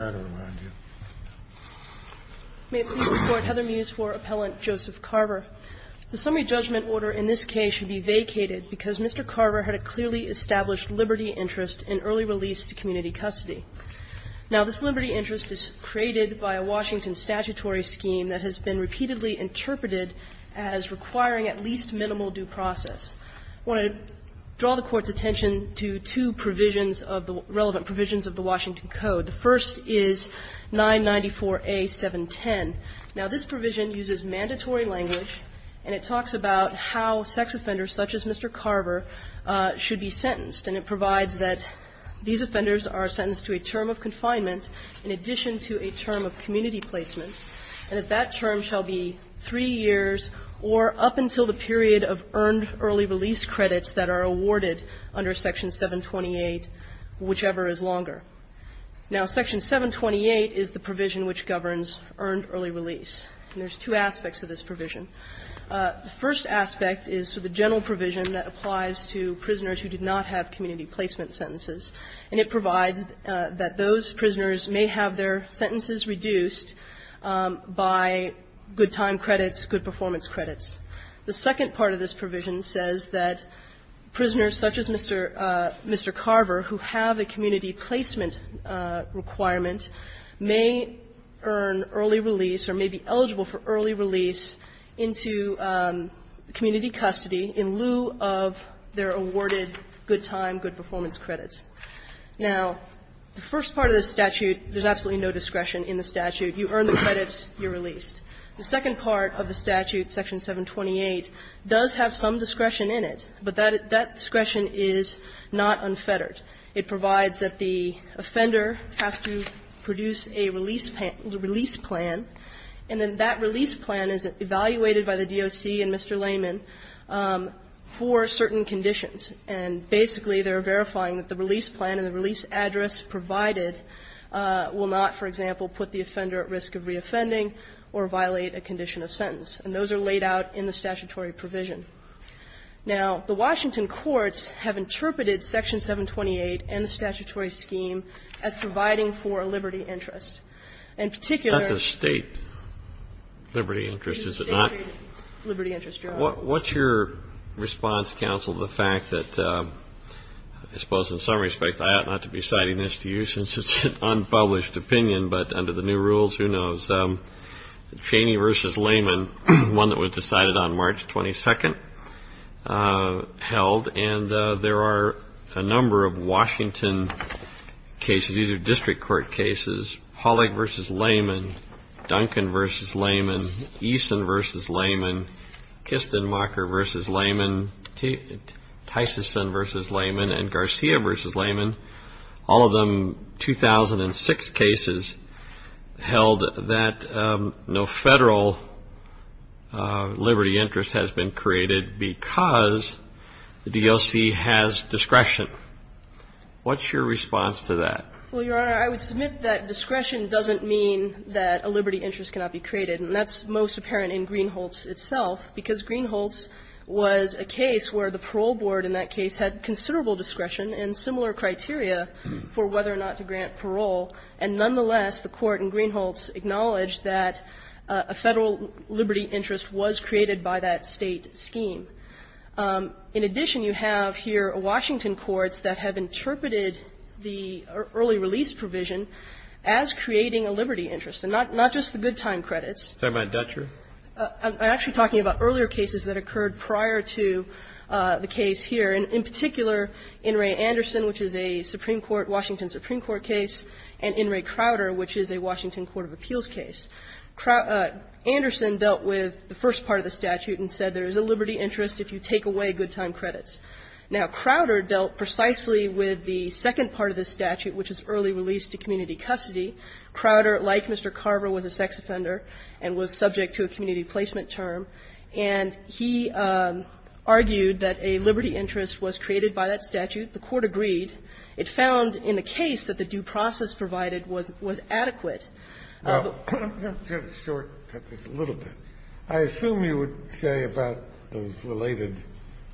May it please the Court, Heather Mews for Appellant Joseph Carver. The summary judgment order in this case should be vacated because Mr. Carver had a clearly established liberty interest in early release to community custody. Now, this liberty interest is created by a Washington statutory scheme that has been repeatedly interpreted as requiring at least minimal due process. I want to draw the Court's attention to two provisions of the relevant provisions of the Washington Code. The first is 994A.710. Now, this provision uses mandatory language, and it talks about how sex offenders such as Mr. Carver should be sentenced. And it provides that these offenders are sentenced to a term of confinement in addition to a term of community placement. And that that term shall be three years or up until the period of earned early release credits that are awarded under Section 728, whichever is longer. Now, Section 728 is the provision which governs earned early release, and there's two aspects of this provision. The first aspect is the general provision that applies to prisoners who do not have community placement sentences. And it provides that those prisoners may have their sentences reduced by good time credits, good performance credits. The second part of this provision says that prisoners such as Mr. Carver who have a community placement requirement may earn early release or may be eligible for early release into community custody in lieu of their awarded good time, good performance credits. Now, the first part of the statute, there's absolutely no discretion in the statute. You earn the credits, you're released. The second part of the statute, Section 728, does have some discretion in it, but that discretion is not unfettered. It provides that the offender has to produce a release plan, and then that release plan is evaluated by the DOC and Mr. Layman for certain conditions. And basically, they're verifying that the release plan and the release address provided will not, for example, put the offender at risk of reoffending or violate a condition of sentence. And those are laid out in the statutory provision. Now, the Washington courts have interpreted Section 728 and the statutory scheme as providing for a liberty interest. In particular the State liberty interest is not. What's your response, counsel, to the fact that, I suppose in some respect, I ought to ask you, since it's an unpublished opinion, but under the new rules, who knows? Cheney v. Layman, one that was decided on March 22nd, held. And there are a number of Washington cases, these are district court cases, Pollack v. Layman, Duncan v. Layman, Eason v. Layman, Kistenmacher v. Layman, Tysonson v. Layman, and Garcia v. Layman. All of them 2006 cases held that no Federal liberty interest has been created because the DLC has discretion. What's your response to that? Well, Your Honor, I would submit that discretion doesn't mean that a liberty interest cannot be created. And that's most apparent in Greenholz itself, because Greenholz was a case where the parole board in that case had considerable discretion and similar criteria for whether or not to grant parole. And nonetheless, the Court in Greenholz acknowledged that a Federal liberty interest was created by that State scheme. In addition, you have here Washington courts that have interpreted the early release provision as creating a liberty interest, and not just the good time credits. Are you talking about Dutcher? I'm actually talking about earlier cases that occurred prior to the case here. And in particular, In re Anderson, which is a Supreme Court, Washington Supreme Court case, and in re Crowder, which is a Washington court of appeals case. Anderson dealt with the first part of the statute and said there is a liberty interest if you take away good time credits. Now, Crowder dealt precisely with the second part of the statute, which is early release to community custody. Crowder, like Mr. Carver, was a sex offender and was subject to a community placement term. And he argued that a liberty interest was created by that statute. The Court agreed. It found in the case that the due process provided was adequate. I'm going to have to shortcut this a little bit. I assume you would say about those related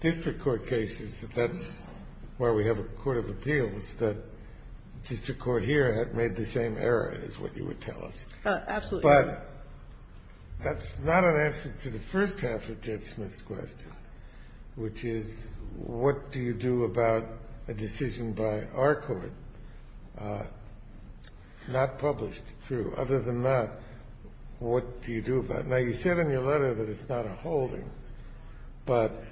district court cases that that's why we have a court of appeals, that district court here had made the same error, is what you would tell us. Absolutely. But that's not an answer to the first half of Judge Smith's question, which is what do you do about a decision by our court, not published, true. Other than that, what do you do about it? Now, you said in your letter that it's not a holding, but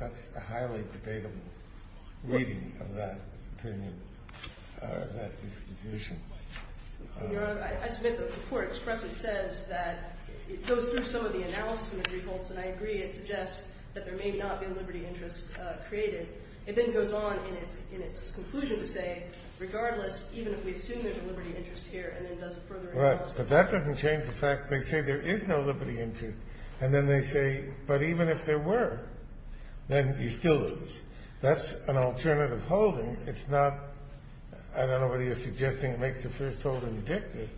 that's a highly debatable reading of that opinion or that disposition. Your Honor, I submit that the court expressly says that it goes through some of the analysis and the defaults, and I agree. It suggests that there may not be a liberty interest created. It then goes on in its conclusion to say, regardless, even if we assume there's a liberty interest here and then does a further analysis. Right. But that doesn't change the fact they say there is no liberty interest, and then they say, but even if there were, then you still lose. That's an alternative holding. It's not, I don't know whether you're suggesting it makes the first holding dictative,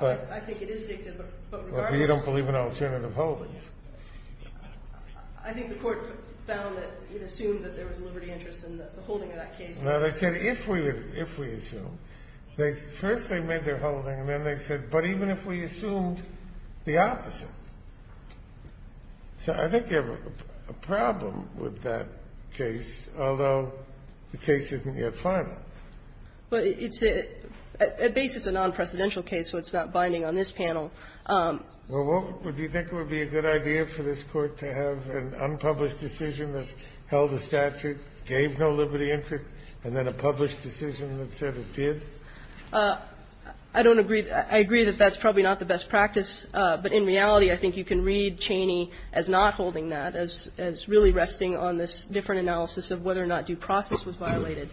but. I think it is dictative, but regardless. But you don't believe in alternative holdings. I think the court found that it assumed that there was a liberty interest, and that's the holding of that case. Now, they said, if we assume, first they made their holding, and then they said, but even if we assumed the opposite. So I think you have a problem with that case, although the case isn't yet final. Well, it's a non-presidential case, so it's not binding on this panel. Well, what would you think would be a good idea for this Court to have an unpublished decision that held the statute, gave no liberty interest, and then a published decision that said it did? I don't agree. I agree that that's probably not the best practice, but in reality, I think you can read Cheney as not holding that, as really resting on this different analysis of whether or not due process was violated.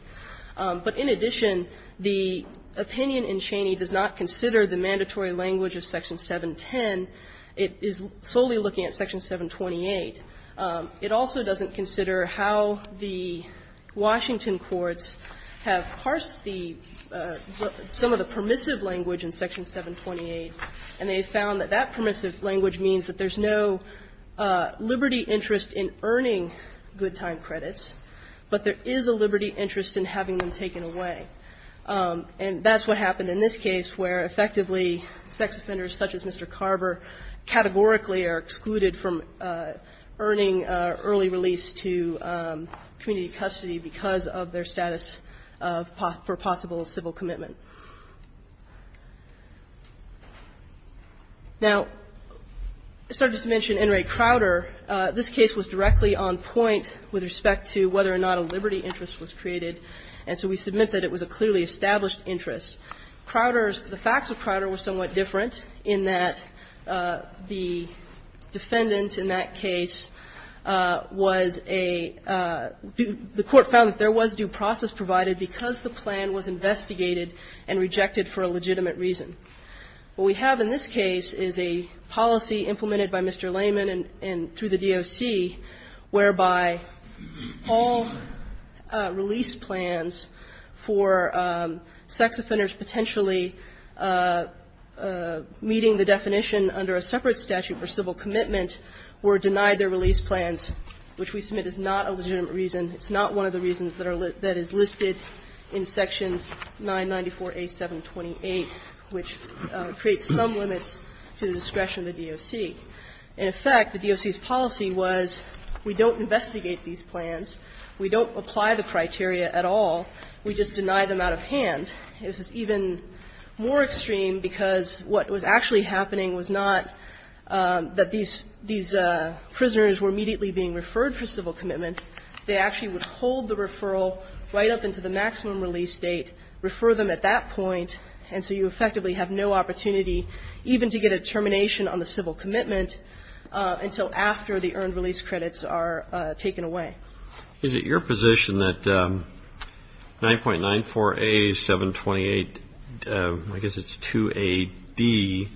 But in addition, the opinion in Cheney does not consider the mandatory language of Section 710. It is solely looking at Section 728. It also doesn't consider how the Washington courts have parsed the some of the permissive language in Section 728, and they found that that permissive language means that there's no liberty interest in earning good time credits, but there is a liberty interest in having them taken away. And that's what happened in this case, where effectively sex offenders such as Mr. Cheney and Ms. McCarver categorically are excluded from earning early release to community custody because of their status for possible civil commitment. Now, I started to mention Enright Crowder. This case was directly on point with respect to whether or not a liberty interest was created, and so we submit that it was a clearly established interest. Crowder's – the facts of Crowder were somewhat different in that the defendant in that case was a – the court found that there was due process provided because the plan was investigated and rejected for a legitimate reason. What we have in this case is a policy implemented by Mr. Layman and through the DOC whereby all release plans for sex offenders potentially meeting the definition under a separate statute for civil commitment were denied their release plans, which we submit is not a legitimate reason. It's not one of the reasons that are – that is listed in Section 994A728, which creates some limits to the discretion of the DOC. In effect, the DOC's policy was we don't investigate these plans, we don't apply the criteria at all, we just deny them out of hand. This is even more extreme because what was actually happening was not that these – these prisoners were immediately being referred for civil commitment. They actually would hold the referral right up into the maximum release date, refer them at that point, and so you effectively have no opportunity even to get a termination on the civil commitment until after the earned release credits are taken away. Is it your position that 9.94A728, I guess it's 2AD,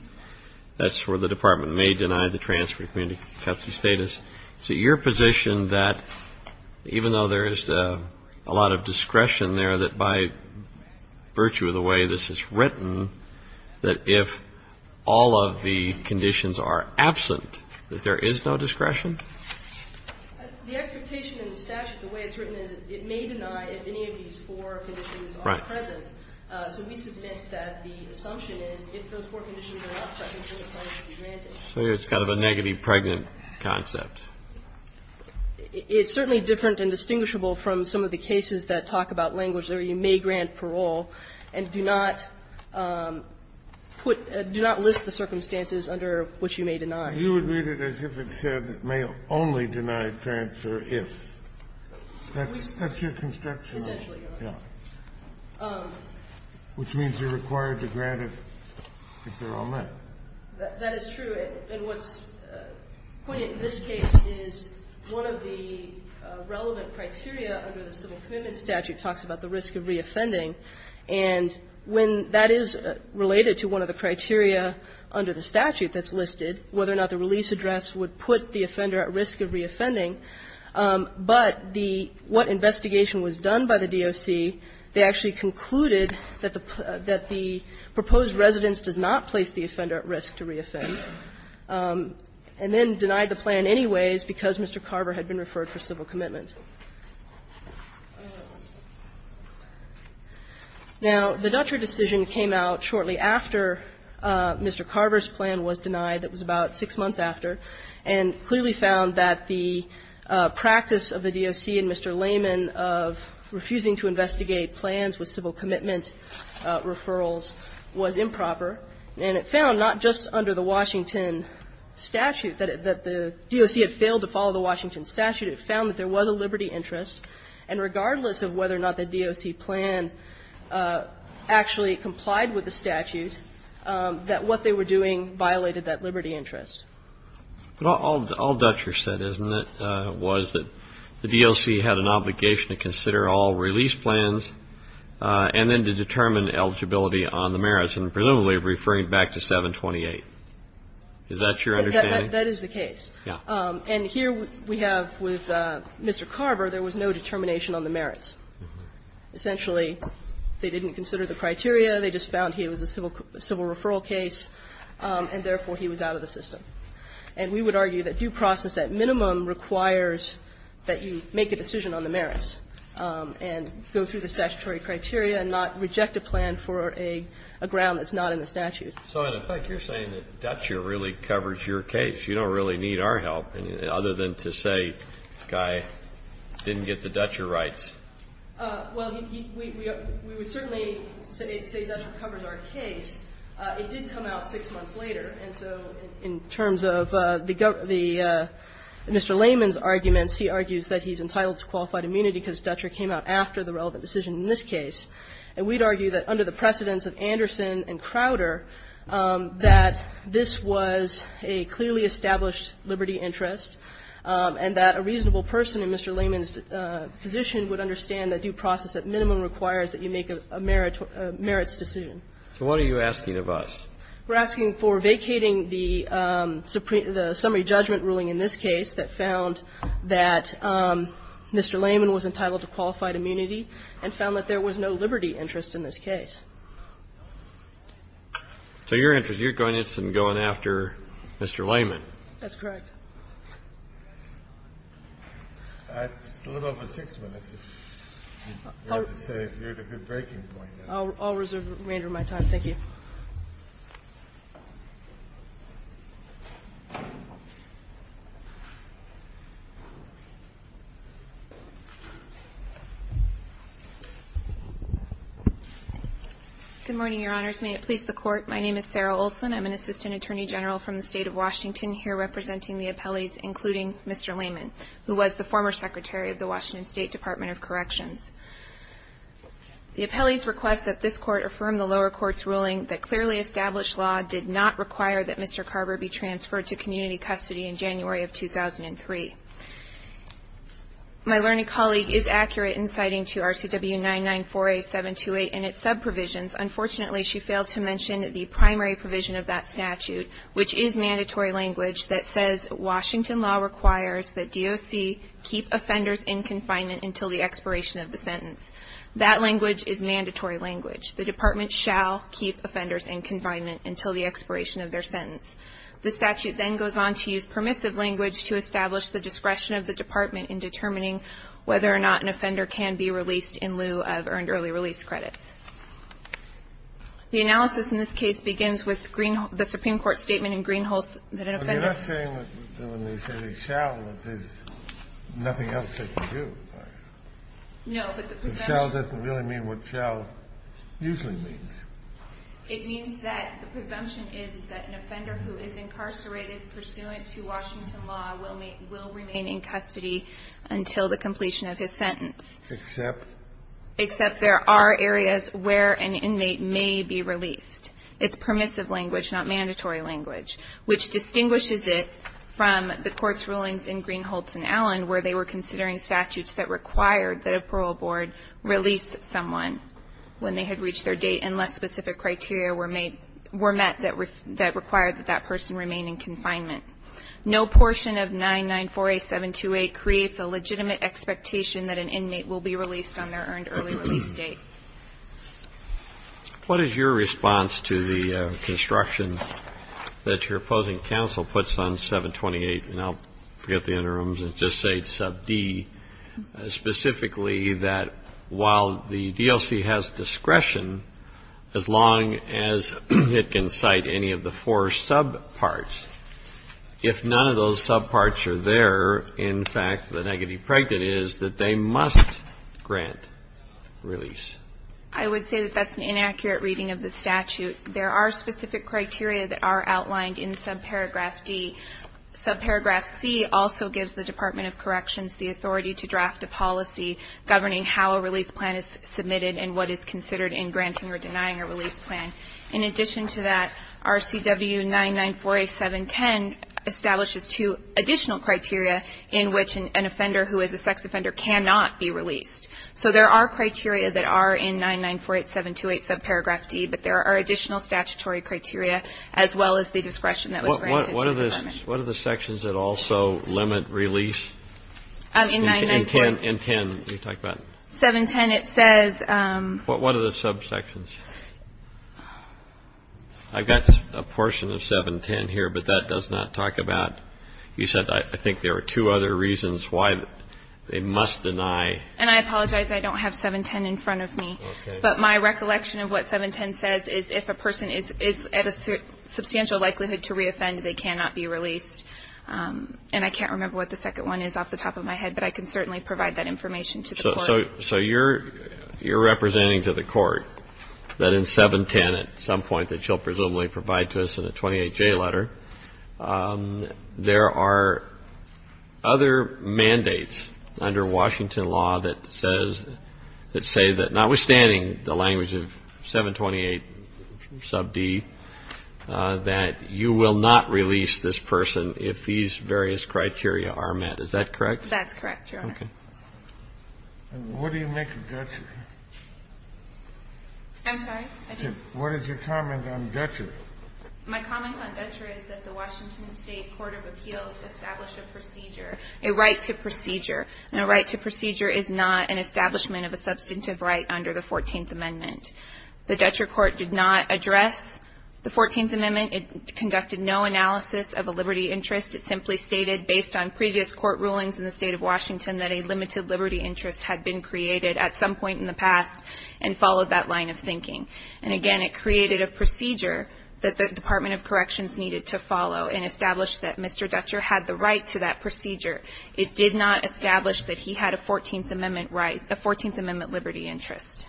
that's where the department may deny the transfer community custody status, is it your position that even though there is a lot of discretion there, that by virtue of the way this is written, that if all of the conditions are absent, that there is no discretion? The expectation in the statute, the way it's written, is it may deny if any of these four conditions are present. Right. So we submit that the assumption is if those four conditions are not present, then the plan is to be granted. So it's kind of a negative pregnant concept. It's certainly different and distinguishable from some of the cases that talk about language where you may grant parole and do not put do not list the circumstances under which you may deny. You would read it as if it said may only deny transfer if. That's your construction. Essentially, Your Honor. Yeah. Which means you're required to grant it if they're all met. That is true. And what's pointed in this case is one of the relevant criteria under the civil commitment statute talks about the risk of reoffending. And when that is related to one of the criteria under the statute that's listed, whether or not the release address would put the offender at risk of reoffending, but the what investigation was done by the DOC, they actually concluded that the proposed residence does not place the offender at risk to reoffend, and then denied the plan anyways because Mr. Carver had been referred for civil commitment. Now, the Dutcher decision came out shortly after Mr. Carver's plan was denied. It was about six months after, and clearly found that the practice of the DOC and Mr. Lehman of refusing to investigate plans with civil commitment referrals was improper. And it found not just under the Washington statute that the DOC had failed to follow the Washington statute. It found that there was a liberty interest, and regardless of whether or not the DOC plan actually complied with the statute, that what they were doing violated that liberty interest. But all Dutcher said, isn't it, was that the DOC had an obligation to consider all release plans and then to determine eligibility on the merits, and presumably referring back to 728. Is that your understanding? That is the case. And here we have with Mr. Carver, there was no determination on the merits. Essentially, they didn't consider the criteria. They just found he was a civil referral case, and therefore, he was out of the system. And we would argue that due process at minimum requires that you make a decision on the merits and go through the statutory criteria and not reject a plan for a ground that's not in the statute. So in effect, you're saying that Dutcher really covers your case. You don't really need our help, other than to say this guy didn't get the Dutcher rights. Well, we would certainly say Dutcher covers our case. It did come out six months later. And so in terms of the Mr. Layman's arguments, he argues that he's entitled to qualified immunity because Dutcher came out after the relevant decision in this case. And we'd argue that under the precedence of Anderson and Crowder, that this was a clearly established liberty interest, and that a reasonable person in Mr. Layman's position would understand that due process at minimum requires that you make a merits decision. So what are you asking of us? We're asking for vacating the summary judgment ruling in this case that found that Mr. Layman was entitled to qualified immunity and found that there was no liberty interest in this case. So your interest, you're going after Mr. Layman. That's correct. I'll reserve my time. Thank you. Good morning, Your Honors. May it please the Court. My name is Sarah Olson. I'm an Assistant Attorney General from the State of Washington, here representing the appellees, including Mr. Layman, who was the former Secretary of the Washington State Department of Corrections. The appellees request that this Court affirm the lower court's ruling that clearly established law did not require that Mr. Carver be transferred to community custody in January of 2003. My learning colleague is accurate in citing to RCW 994A728 and its sub-provisions. Unfortunately, she failed to mention the primary provision of that statute, which is mandatory language that says Washington law requires that DOC keep offenders in confinement until the expiration of the sentence. That language is mandatory language. The Department shall keep offenders in confinement until the expiration of their sentence. The statute then goes on to use permissive language to establish the discretion of the Department in determining whether or not an offender can be released in lieu of earned early release credits. The analysis in this case begins with the Supreme Court statement in Greenholst that an offender ---- Nothing else they can do. No, but the presumption ---- The shall doesn't really mean what shall usually means. It means that the presumption is that an offender who is incarcerated pursuant to Washington law will remain in custody until the completion of his sentence. Except? Except there are areas where an inmate may be released. It's permissive language, not mandatory language, which distinguishes it from the statute in Greenholst and Allen where they were considering statutes that required that a parole board release someone when they had reached their date unless specific criteria were met that required that that person remain in confinement. No portion of 9948728 creates a legitimate expectation that an inmate will be released on their earned early release date. What is your response to the construction that your opposing counsel puts on 728? And I'll forget the interims and just say it's sub D. Specifically that while the DLC has discretion, as long as it can cite any of the four subparts, if none of those subparts are there, in fact, the negative prejudice is that they must grant release. I would say that that's an inaccurate reading of the statute. There are specific criteria that are outlined in subparagraph D. Subparagraph C also gives the Department of Corrections the authority to draft a policy governing how a release plan is submitted and what is considered in granting or denying a release plan. In addition to that, RCW 9948710 establishes two additional criteria in which an offender who is a sex offender cannot be released. So there are criteria that are in 9948728 subparagraph D, but there are additional statutory criteria as well as the discretion that was mentioned. What are the sections that also limit release? In 9948710. 710, it says. What are the subsections? I've got a portion of 710 here, but that does not talk about. You said I think there are two other reasons why they must deny. And I apologize. I don't have 710 in front of me. But my recollection of what 710 says is if a person is at a substantial likelihood to reoffend, they cannot be released. And I can't remember what the second one is off the top of my head, but I can certainly provide that information to the court. So you're representing to the court that in 710 at some point that you'll presumably provide to us in a 28J letter, there are other mandates under Washington law that say that notwithstanding the language of 728 sub D, that you will not release this person if these various criteria are met. Is that correct? That's correct, Your Honor. And what do you make of Dutcher? I'm sorry? What is your comment on Dutcher? My comment on Dutcher is that the Washington State Court of Appeals established a procedure, a right to procedure. And a right to procedure is not an establishment of a substantive right under the 14th Amendment. The Dutcher Court did not address the 14th Amendment. It conducted no analysis of a liberty interest. It simply stated based on previous court rulings in the State of Washington that a limited liberty interest had been created at some point in the past and followed that line of thinking. And, again, it created a procedure that the Department of Corrections needed to follow and established that Mr. Dutcher had the right to that procedure. It did not establish that he had a 14th Amendment right, a 14th Amendment liberty interest.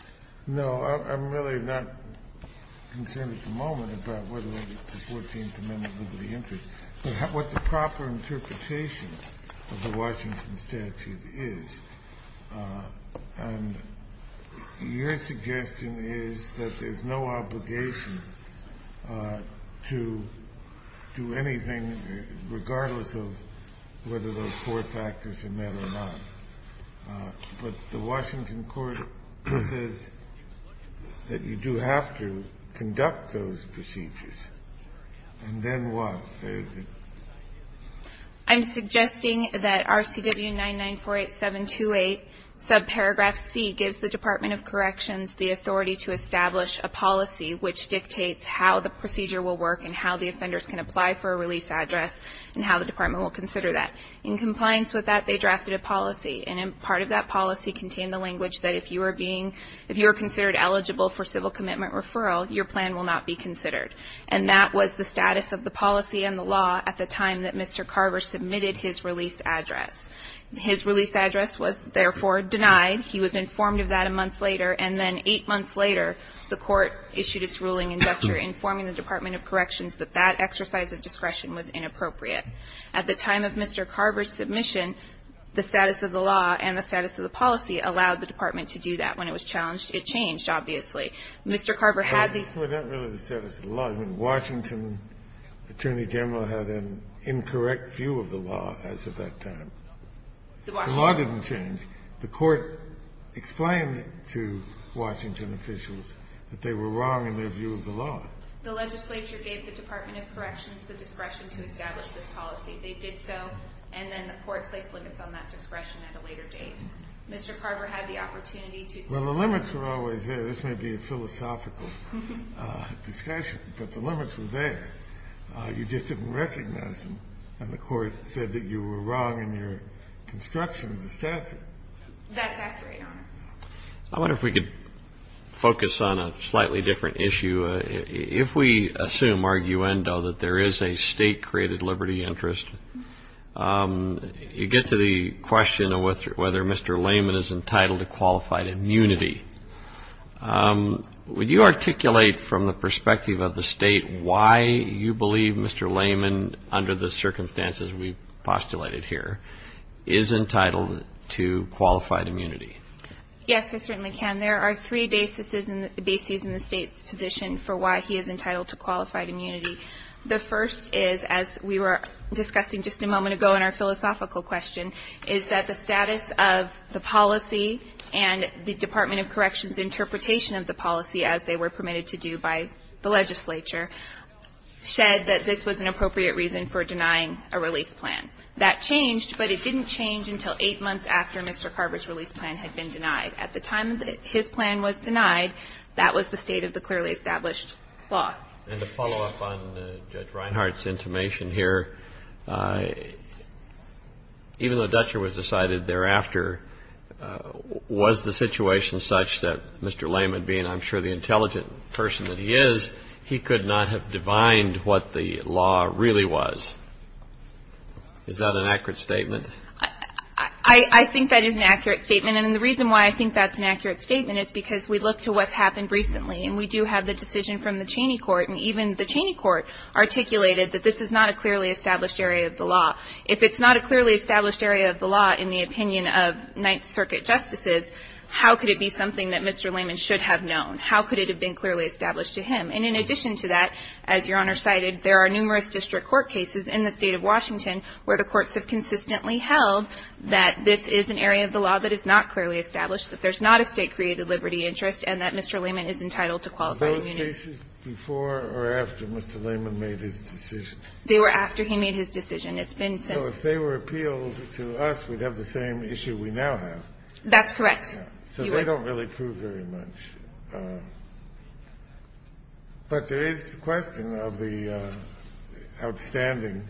No. I'm really not concerned at the moment about whether it's a 14th Amendment liberty interest. What the proper interpretation of the Washington statute is, and your suggestion is that there's no obligation to do anything regardless of whether those four factors are met or not. But the Washington court says that you do have to conduct those procedures. And then what? I'm suggesting that RCW 9948728, subparagraph C, gives the Department of Corrections the authority to establish a policy which dictates how the procedure will work and how the offenders can apply for a release address and how the Department will consider that. In compliance with that, they drafted a policy. And part of that policy contained the language that if you were being, if you were considered eligible for civil commitment referral, your plan will not be considered. And that was the status of the policy and the law at the time that Mr. Carver submitted his release address. His release address was, therefore, denied. He was informed of that a month later. And then eight months later, the Court issued its ruling in Dutcher informing the Department of Corrections that that exercise of discretion was inappropriate. At the time of Mr. Carver's submission, the status of the law and the status of the policy allowed the Department to do that. When it was challenged, it changed, obviously. Mr. Carver had the ---- Kennedy, this was not really the status of the law. I mean, Washington attorney general had an incorrect view of the law as of that time. The law didn't change. The Court explained to Washington officials that they were wrong in their view of the law. The legislature gave the Department of Corrections the discretion to establish this policy. They did so. And then the Court placed limits on that discretion at a later date. Mr. Carver had the opportunity to ---- Well, the limits were always there. This may be a philosophical discussion, but the limits were there. You just didn't recognize them. And the Court said that you were wrong in your construction of the statute. That's accurate, Your Honor. I wonder if we could focus on a slightly different issue. If we assume arguendo that there is a state-created liberty interest, you get to the question of whether Mr. Lehman is entitled to qualified immunity. Would you articulate from the perspective of the state why you believe Mr. Lehman, under the circumstances we've postulated here, is entitled to qualified immunity? Yes, I certainly can. There are three bases in the state's position for why he is entitled to qualified immunity. The first is, as we were discussing just a moment ago in our philosophical question, is that the status of the policy and the Department of Corrections interpretation of the policy, as they were permitted to do by the legislature, said that this was an appropriate reason for denying a release plan. That changed, but it didn't change until eight months after Mr. Carver's release plan had been denied. At the time that his plan was denied, that was the state of the clearly established law. And to follow up on Judge Reinhart's intimation here, even though Dutcher was decided thereafter, was the situation such that Mr. Lehman, being I'm sure the intelligent person that he is, he could not have divined what the law really was? Is that an accurate statement? I think that is an accurate statement. And the reason why I think that's an accurate statement is because we look to what's happened recently. And we do have the decision from the Cheney Court. And even the Cheney Court articulated that this is not a clearly established area of the law. If it's not a clearly established area of the law in the opinion of Ninth Circuit justices, how could it be something that Mr. Lehman should have known? How could it have been clearly established to him? And in addition to that, as Your Honor cited, there are numerous district court cases in the state of Washington where the courts have consistently held that this is an area of the law that is not clearly established, that there's not a state that has created liberty interest, and that Mr. Lehman is entitled to qualified Kennedy. Are those cases before or after Mr. Lehman made his decision? They were after he made his decision. It's been since. So if they were appealed to us, we'd have the same issue we now have. That's correct, Your Honor. So they don't really prove very much. But there is the question of the outstanding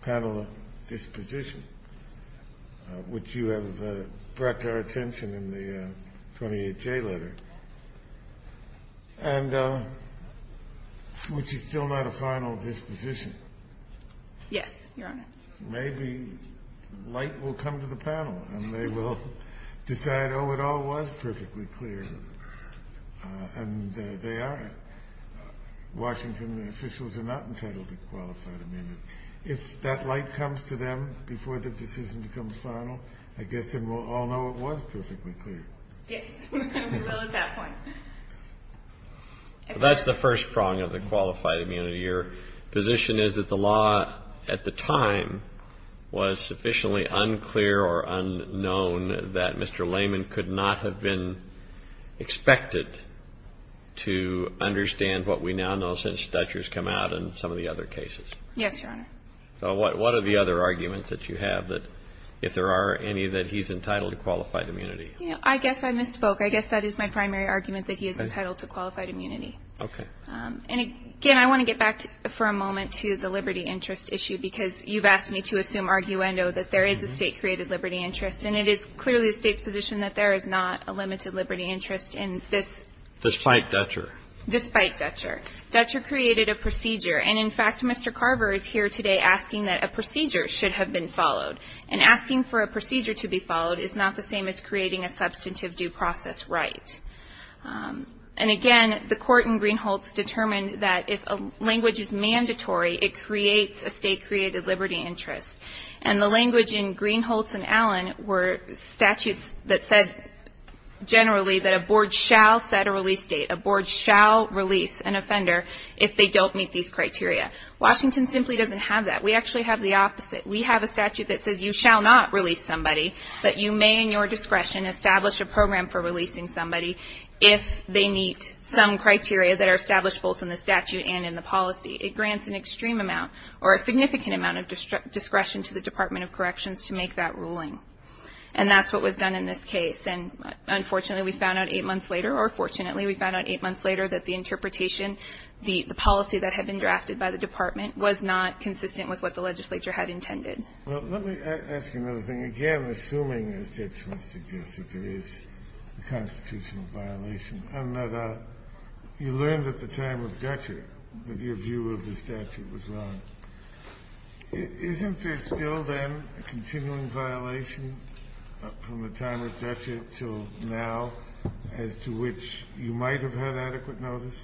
panel disposition, which you have brought to our attention in the 28J letter, and which is still not a final disposition. Yes, Your Honor. Maybe light will come to the panel, and they will decide, oh, it all was perfectly clear, and they are. Washington officials are not entitled to qualified amendment. If that light comes to them before the decision becomes final, I guess then we'll all know it was perfectly clear. Yes, we will at that point. That's the first prong of the qualified amendment. Your position is that the law at the time was sufficiently unclear or unknown that Mr. Lehman could not have been expected to understand what we now know since Dutcher's come out and some of the other cases. Yes, Your Honor. So what are the other arguments that you have, if there are any, that he's entitled to qualified immunity? I guess I misspoke. I guess that is my primary argument, that he is entitled to qualified immunity. Okay. And, again, I want to get back for a moment to the liberty interest issue, because you've asked me to assume arguendo that there is a State-created liberty interest, and it is clearly the State's position that there is not a limited liberty interest in this. Despite Dutcher. Despite Dutcher. Dutcher created a procedure. And, in fact, Mr. Carver is here today asking that a procedure should have been followed. And asking for a procedure to be followed is not the same as creating a substantive due process right. And, again, the court in Greenholz determined that if a language is mandatory, it creates a State-created liberty interest. And the language in Greenholz and Allen were statutes that said, generally, that a board shall set a release date. A board shall release an offender if they don't meet these criteria. Washington simply doesn't have that. We actually have the opposite. We have a statute that says you shall not release somebody, but you may in your discretion establish a program for releasing somebody if they meet some criteria that are established both in the statute and in the policy. It grants an extreme amount or a significant amount of discretion to the Department of Corrections to make that ruling. And that's what was done in this case. And, unfortunately, we found out eight months later, or fortunately, we found out eight months later that the interpretation, the policy that had been drafted by the department, was not consistent with what the legislature had intended. Kennedy. Well, let me ask you another thing. Again, assuming, as Judge Flint suggests, that there is a constitutional violation, and that you learned at the time of Dutcher that your view of the statute was wrong, isn't there still then a continuing violation from the time of Dutcher to now as to which you might have had adequate notice?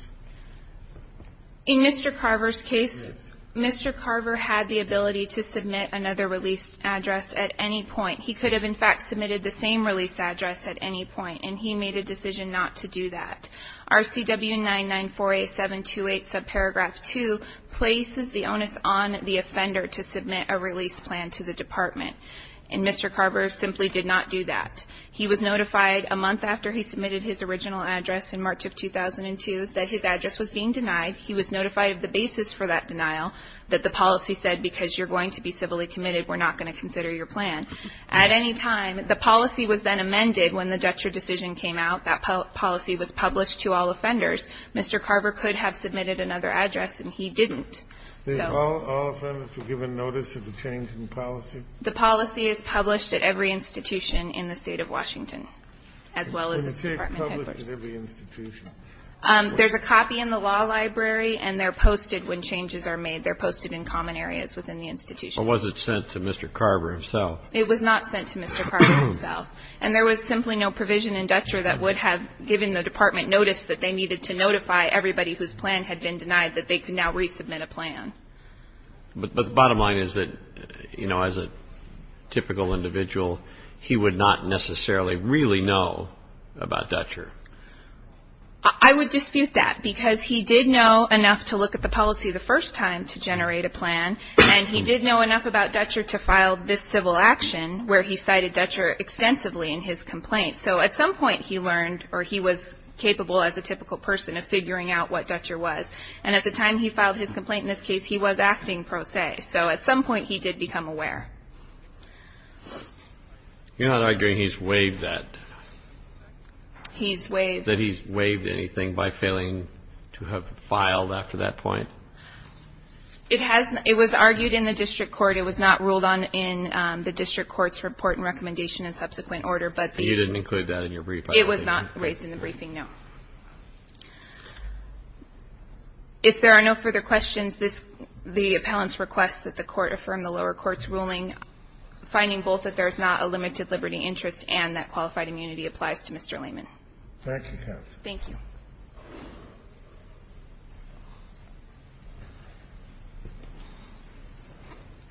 In Mr. Carver's case, Mr. Carver had the ability to submit another release address at any point. He could have, in fact, submitted the same release address at any point, and he made a decision not to do that. RCW 9948728, subparagraph 2, places the onus on the offender to submit a release plan to the department. And Mr. Carver simply did not do that. He was notified a month after he submitted his original address in March of 2002 that his address was being denied. He was notified of the basis for that denial, that the policy said, because you're going to be civilly committed, we're not going to consider your plan. At any time, the policy was then amended when the Dutcher decision came out. That policy was published to all offenders. Mr. Carver could have submitted another address, and he didn't. So all offenders were given notice of the change in policy? The policy is published at every institution in the State of Washington, as well as the Department of Headquarters. Was the change published at every institution? There's a copy in the law library, and they're posted when changes are made. They're posted in common areas within the institution. Or was it sent to Mr. Carver himself? It was not sent to Mr. Carver himself. And there was simply no provision in Dutcher that would have given the Department notice that they needed to notify everybody whose plan had been denied that they could now resubmit a plan. But the bottom line is that, you know, as a typical individual, he would not necessarily really know about Dutcher. I would dispute that, because he did know enough to look at the policy the first time to generate a plan, and he did know enough about Dutcher to file this civil action where he cited Dutcher extensively in his complaint. So at some point he learned, or he was capable as a typical person of figuring out what Dutcher was. And at the time he filed his complaint in this case, he was acting pro se. So at some point he did become aware. You're not arguing he's waived that? He's waived. That he's waived anything by failing to have filed after that point? It was argued in the district court. It was not ruled on in the district court's report and recommendation and subsequent order. You didn't include that in your briefing? It was not raised in the briefing, no. If there are no further questions, this the appellant's request that the Court affirm the lower court's ruling, finding both that there is not a limited liberty interest and that qualified immunity applies to Mr. Layman. Thank you, counsel. Thank you.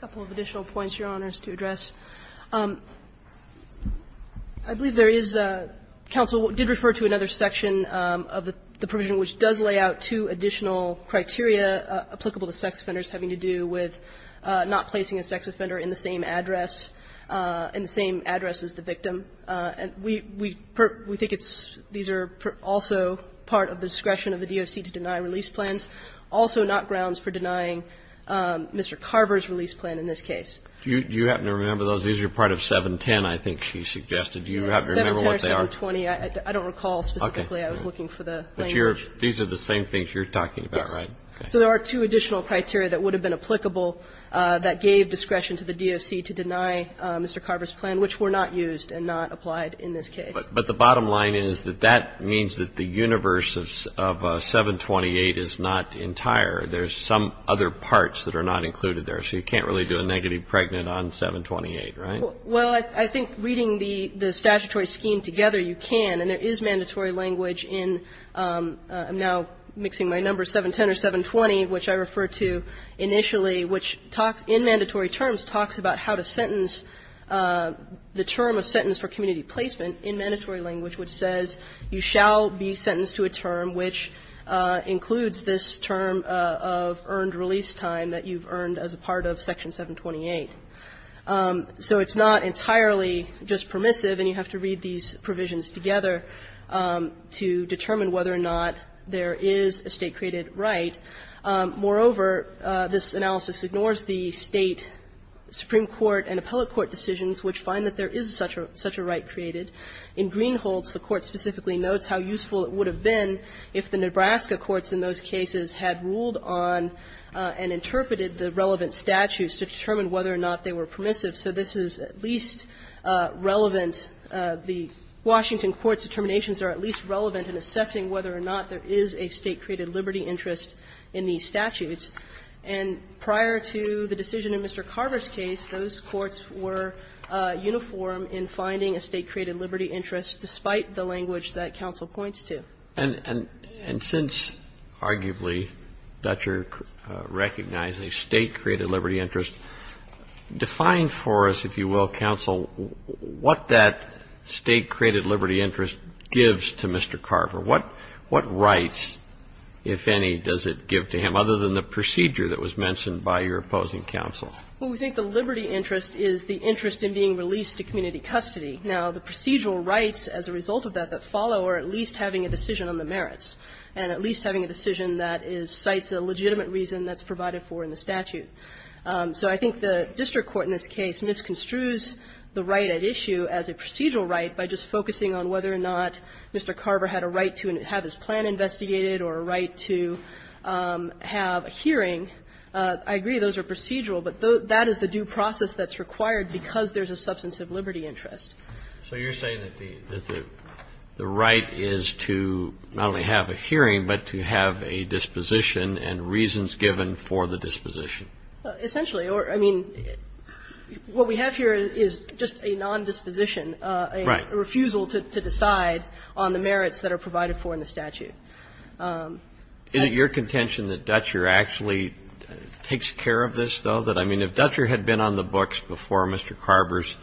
I believe there is, counsel, did refer to another section of the provision which does lay out two additional criteria applicable to sex offenders having to do with not placing a sex offender in the same address, in the same address as the victim. We think these are also part of the discretion of the DOC to deny release plans, also not grounds for denying Mr. Carver's release plan in this case. Do you happen to remember those? These are part of 710, I think she suggested. Do you happen to remember what they are? Yes, 710 or 720. I don't recall specifically. I was looking for the language. But these are the same things you're talking about, right? Yes. So there are two additional criteria that would have been applicable that gave discretion to the DOC to deny Mr. Carver's plan, which were not used and not applied in this case. But the bottom line is that that means that the universe of 728 is not entire. There's some other parts that are not included there. So you can't really do a negative pregnant on 728, right? Well, I think reading the statutory scheme together, you can. And there is mandatory language in, I'm now mixing my numbers, 710 or 720, which I referred to initially, which talks, in mandatory terms, talks about how to sentence the term of sentence for community placement in mandatory language, which says you shall be sentenced to a term which includes this term of earned release time that you've earned as a part of Section 728. So it's not entirely just permissive, and you have to read these provisions together to determine whether or not there is a State-created right. Moreover, this analysis ignores the State, Supreme Court, and appellate court decisions which find that there is such a right created. In Greenholz, the Court specifically notes how useful it would have been if the Nebraska courts in those cases had ruled on and interpreted the relevant statutes to determine whether or not they were permissive. So this is at least relevant. The Washington courts' determinations are at least relevant in assessing whether or not there is a State-created liberty interest in these statutes. And prior to the decision in Mr. Carver's case, those courts were uniform in finding a State-created liberty interest despite the language that counsel points to. And since, arguably, Dutcher recognized a State-created liberty interest, define for us, if you will, counsel, what that State-created liberty interest gives to Mr. Carver. What rights, if any, does it give to him, other than the procedure that was mentioned by your opposing counsel? Well, we think the liberty interest is the interest in being released to community custody. Now, the procedural rights as a result of that that follow are at least having a decision on the merits, and at least having a decision that is the legitimate reason that's provided for in the statute. So I think the district court in this case misconstrues the right at issue as a procedural right by just focusing on whether or not Mr. Carver had a right to have his plan investigated or a right to have a hearing. I agree those are procedural, but that is the due process that's required because there's a substantive liberty interest. So you're saying that the right is to not only have a hearing, but to have a disposition and reasons given for the disposition. Essentially. I mean, what we have here is just a nondisposition, a refusal to decide on the merits that are provided for in the statute. Is it your contention that Dutcher actually takes care of this, though? That, I mean, if Dutcher had been on the books before Mr. Carver's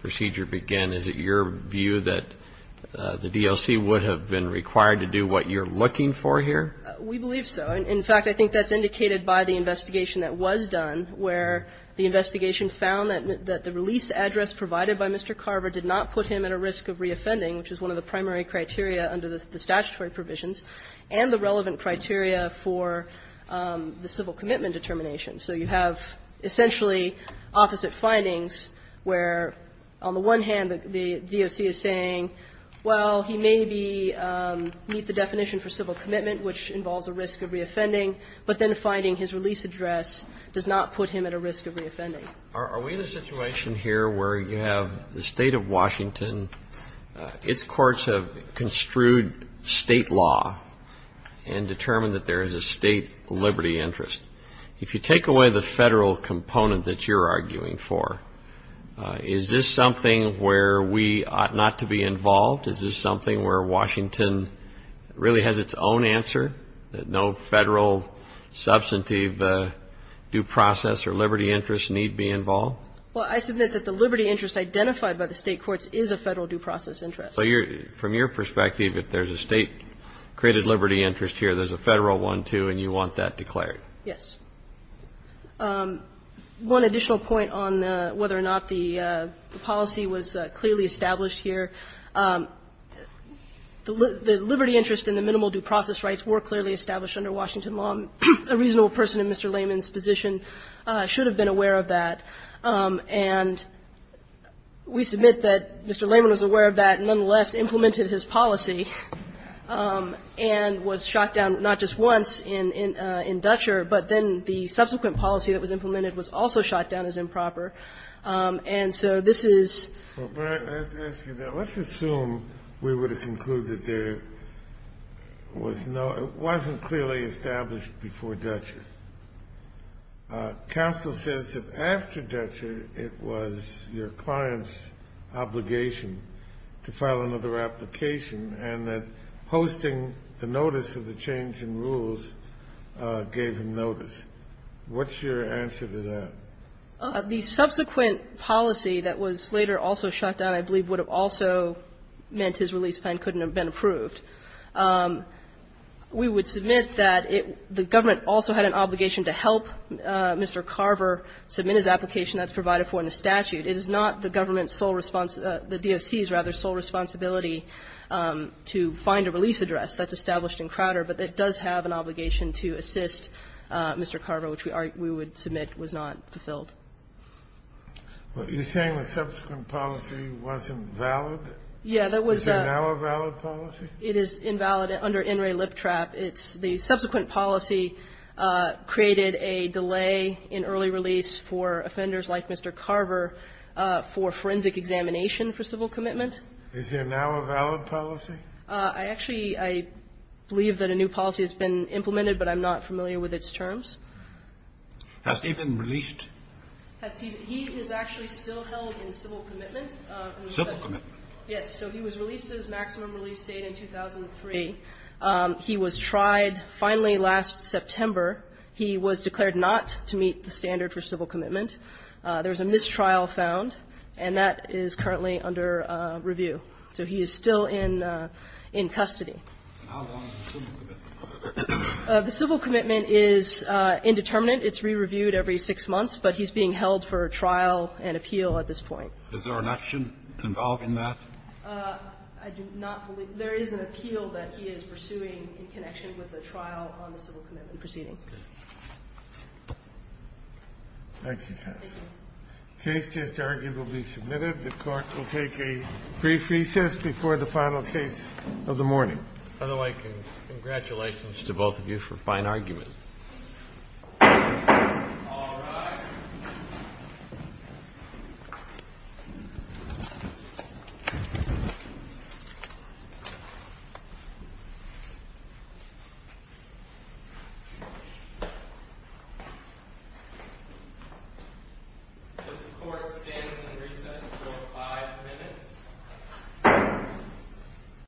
procedure began, is it your view that the D.L.C. would have been required to do what you're looking for here? We believe so. In fact, I think that's indicated by the investigation that was done, where the investigation found that the release address provided by Mr. Carver did not put him at a risk of reoffending, which is one of the primary criteria under the statutory provisions, and the relevant criteria for the civil commitment determination. So you have essentially opposite findings where, on the one hand, the DOC is saying, well, he may be meet the definition for civil commitment, which involves a risk of reoffending, but then finding his release address does not put him at a risk of reoffending. Are we in a situation here where you have the state of Washington, its courts have construed state law and determined that there is a state liberty interest? If you take away the federal component that you're arguing for, is this something where we ought not to be involved? Is this something where Washington really has its own answer, that no federal substantive due process or liberty interest need be involved? Well, I submit that the liberty interest identified by the State courts is a Federal due process interest. So you're – from your perspective, if there's a State-created liberty interest here, there's a Federal one, too, and you want that declared? Yes. One additional point on whether or not the policy was clearly established here, the liberty interest and the minimal due process rights were clearly established under Washington law. A reasonable person in Mr. Layman's position should have been aware of that. And we submit that Mr. Layman was aware of that and nonetheless implemented his policy and was shot down not just once in Dutcher, but then the subsequent policy that was implemented was also shot down as improper. And so this is – But let's ask you that. Let's assume we were to conclude that there was no – it wasn't clear. It was clearly established before Dutcher. Counsel says that after Dutcher, it was your client's obligation to file another application and that posting the notice of the change in rules gave him notice. What's your answer to that? The subsequent policy that was later also shot down, I believe, would have also meant his release plan couldn't have been approved. We would submit that it – the government also had an obligation to help Mr. Carver submit his application that's provided for in the statute. It is not the government's sole – the DOC's, rather, sole responsibility to find a release address that's established in Crowder, but it does have an obligation to assist Mr. Carver, which we would submit was not fulfilled. You're saying the subsequent policy wasn't valid? Yeah, that was – Is it now a valid policy? It is invalid under NRA Lip Trap. It's – the subsequent policy created a delay in early release for offenders like Mr. Carver for forensic examination for civil commitment. Is it now a valid policy? I actually – I believe that a new policy has been implemented, but I'm not familiar with its terms. Has he been released? Has he – he is actually still held in civil commitment. Civil commitment? Yes. So he was released to his maximum release date in 2003. He was tried finally last September. He was declared not to meet the standard for civil commitment. There was a mistrial found, and that is currently under review. So he is still in – in custody. How long is the civil commitment? The civil commitment is indeterminate. It's re-reviewed every six months, but he's being held for trial and appeal at this point. Is there an action involving that? I do not believe – there is an appeal that he is pursuing in connection with the trial on the civil commitment proceeding. Okay. Thank you. Thank you. The case is arguably submitted. The Court will take a brief recess before the final case of the morning. If I don't like it, congratulations to both of you for fine argument. All rise. Thank you. This Court stands in recess for five minutes.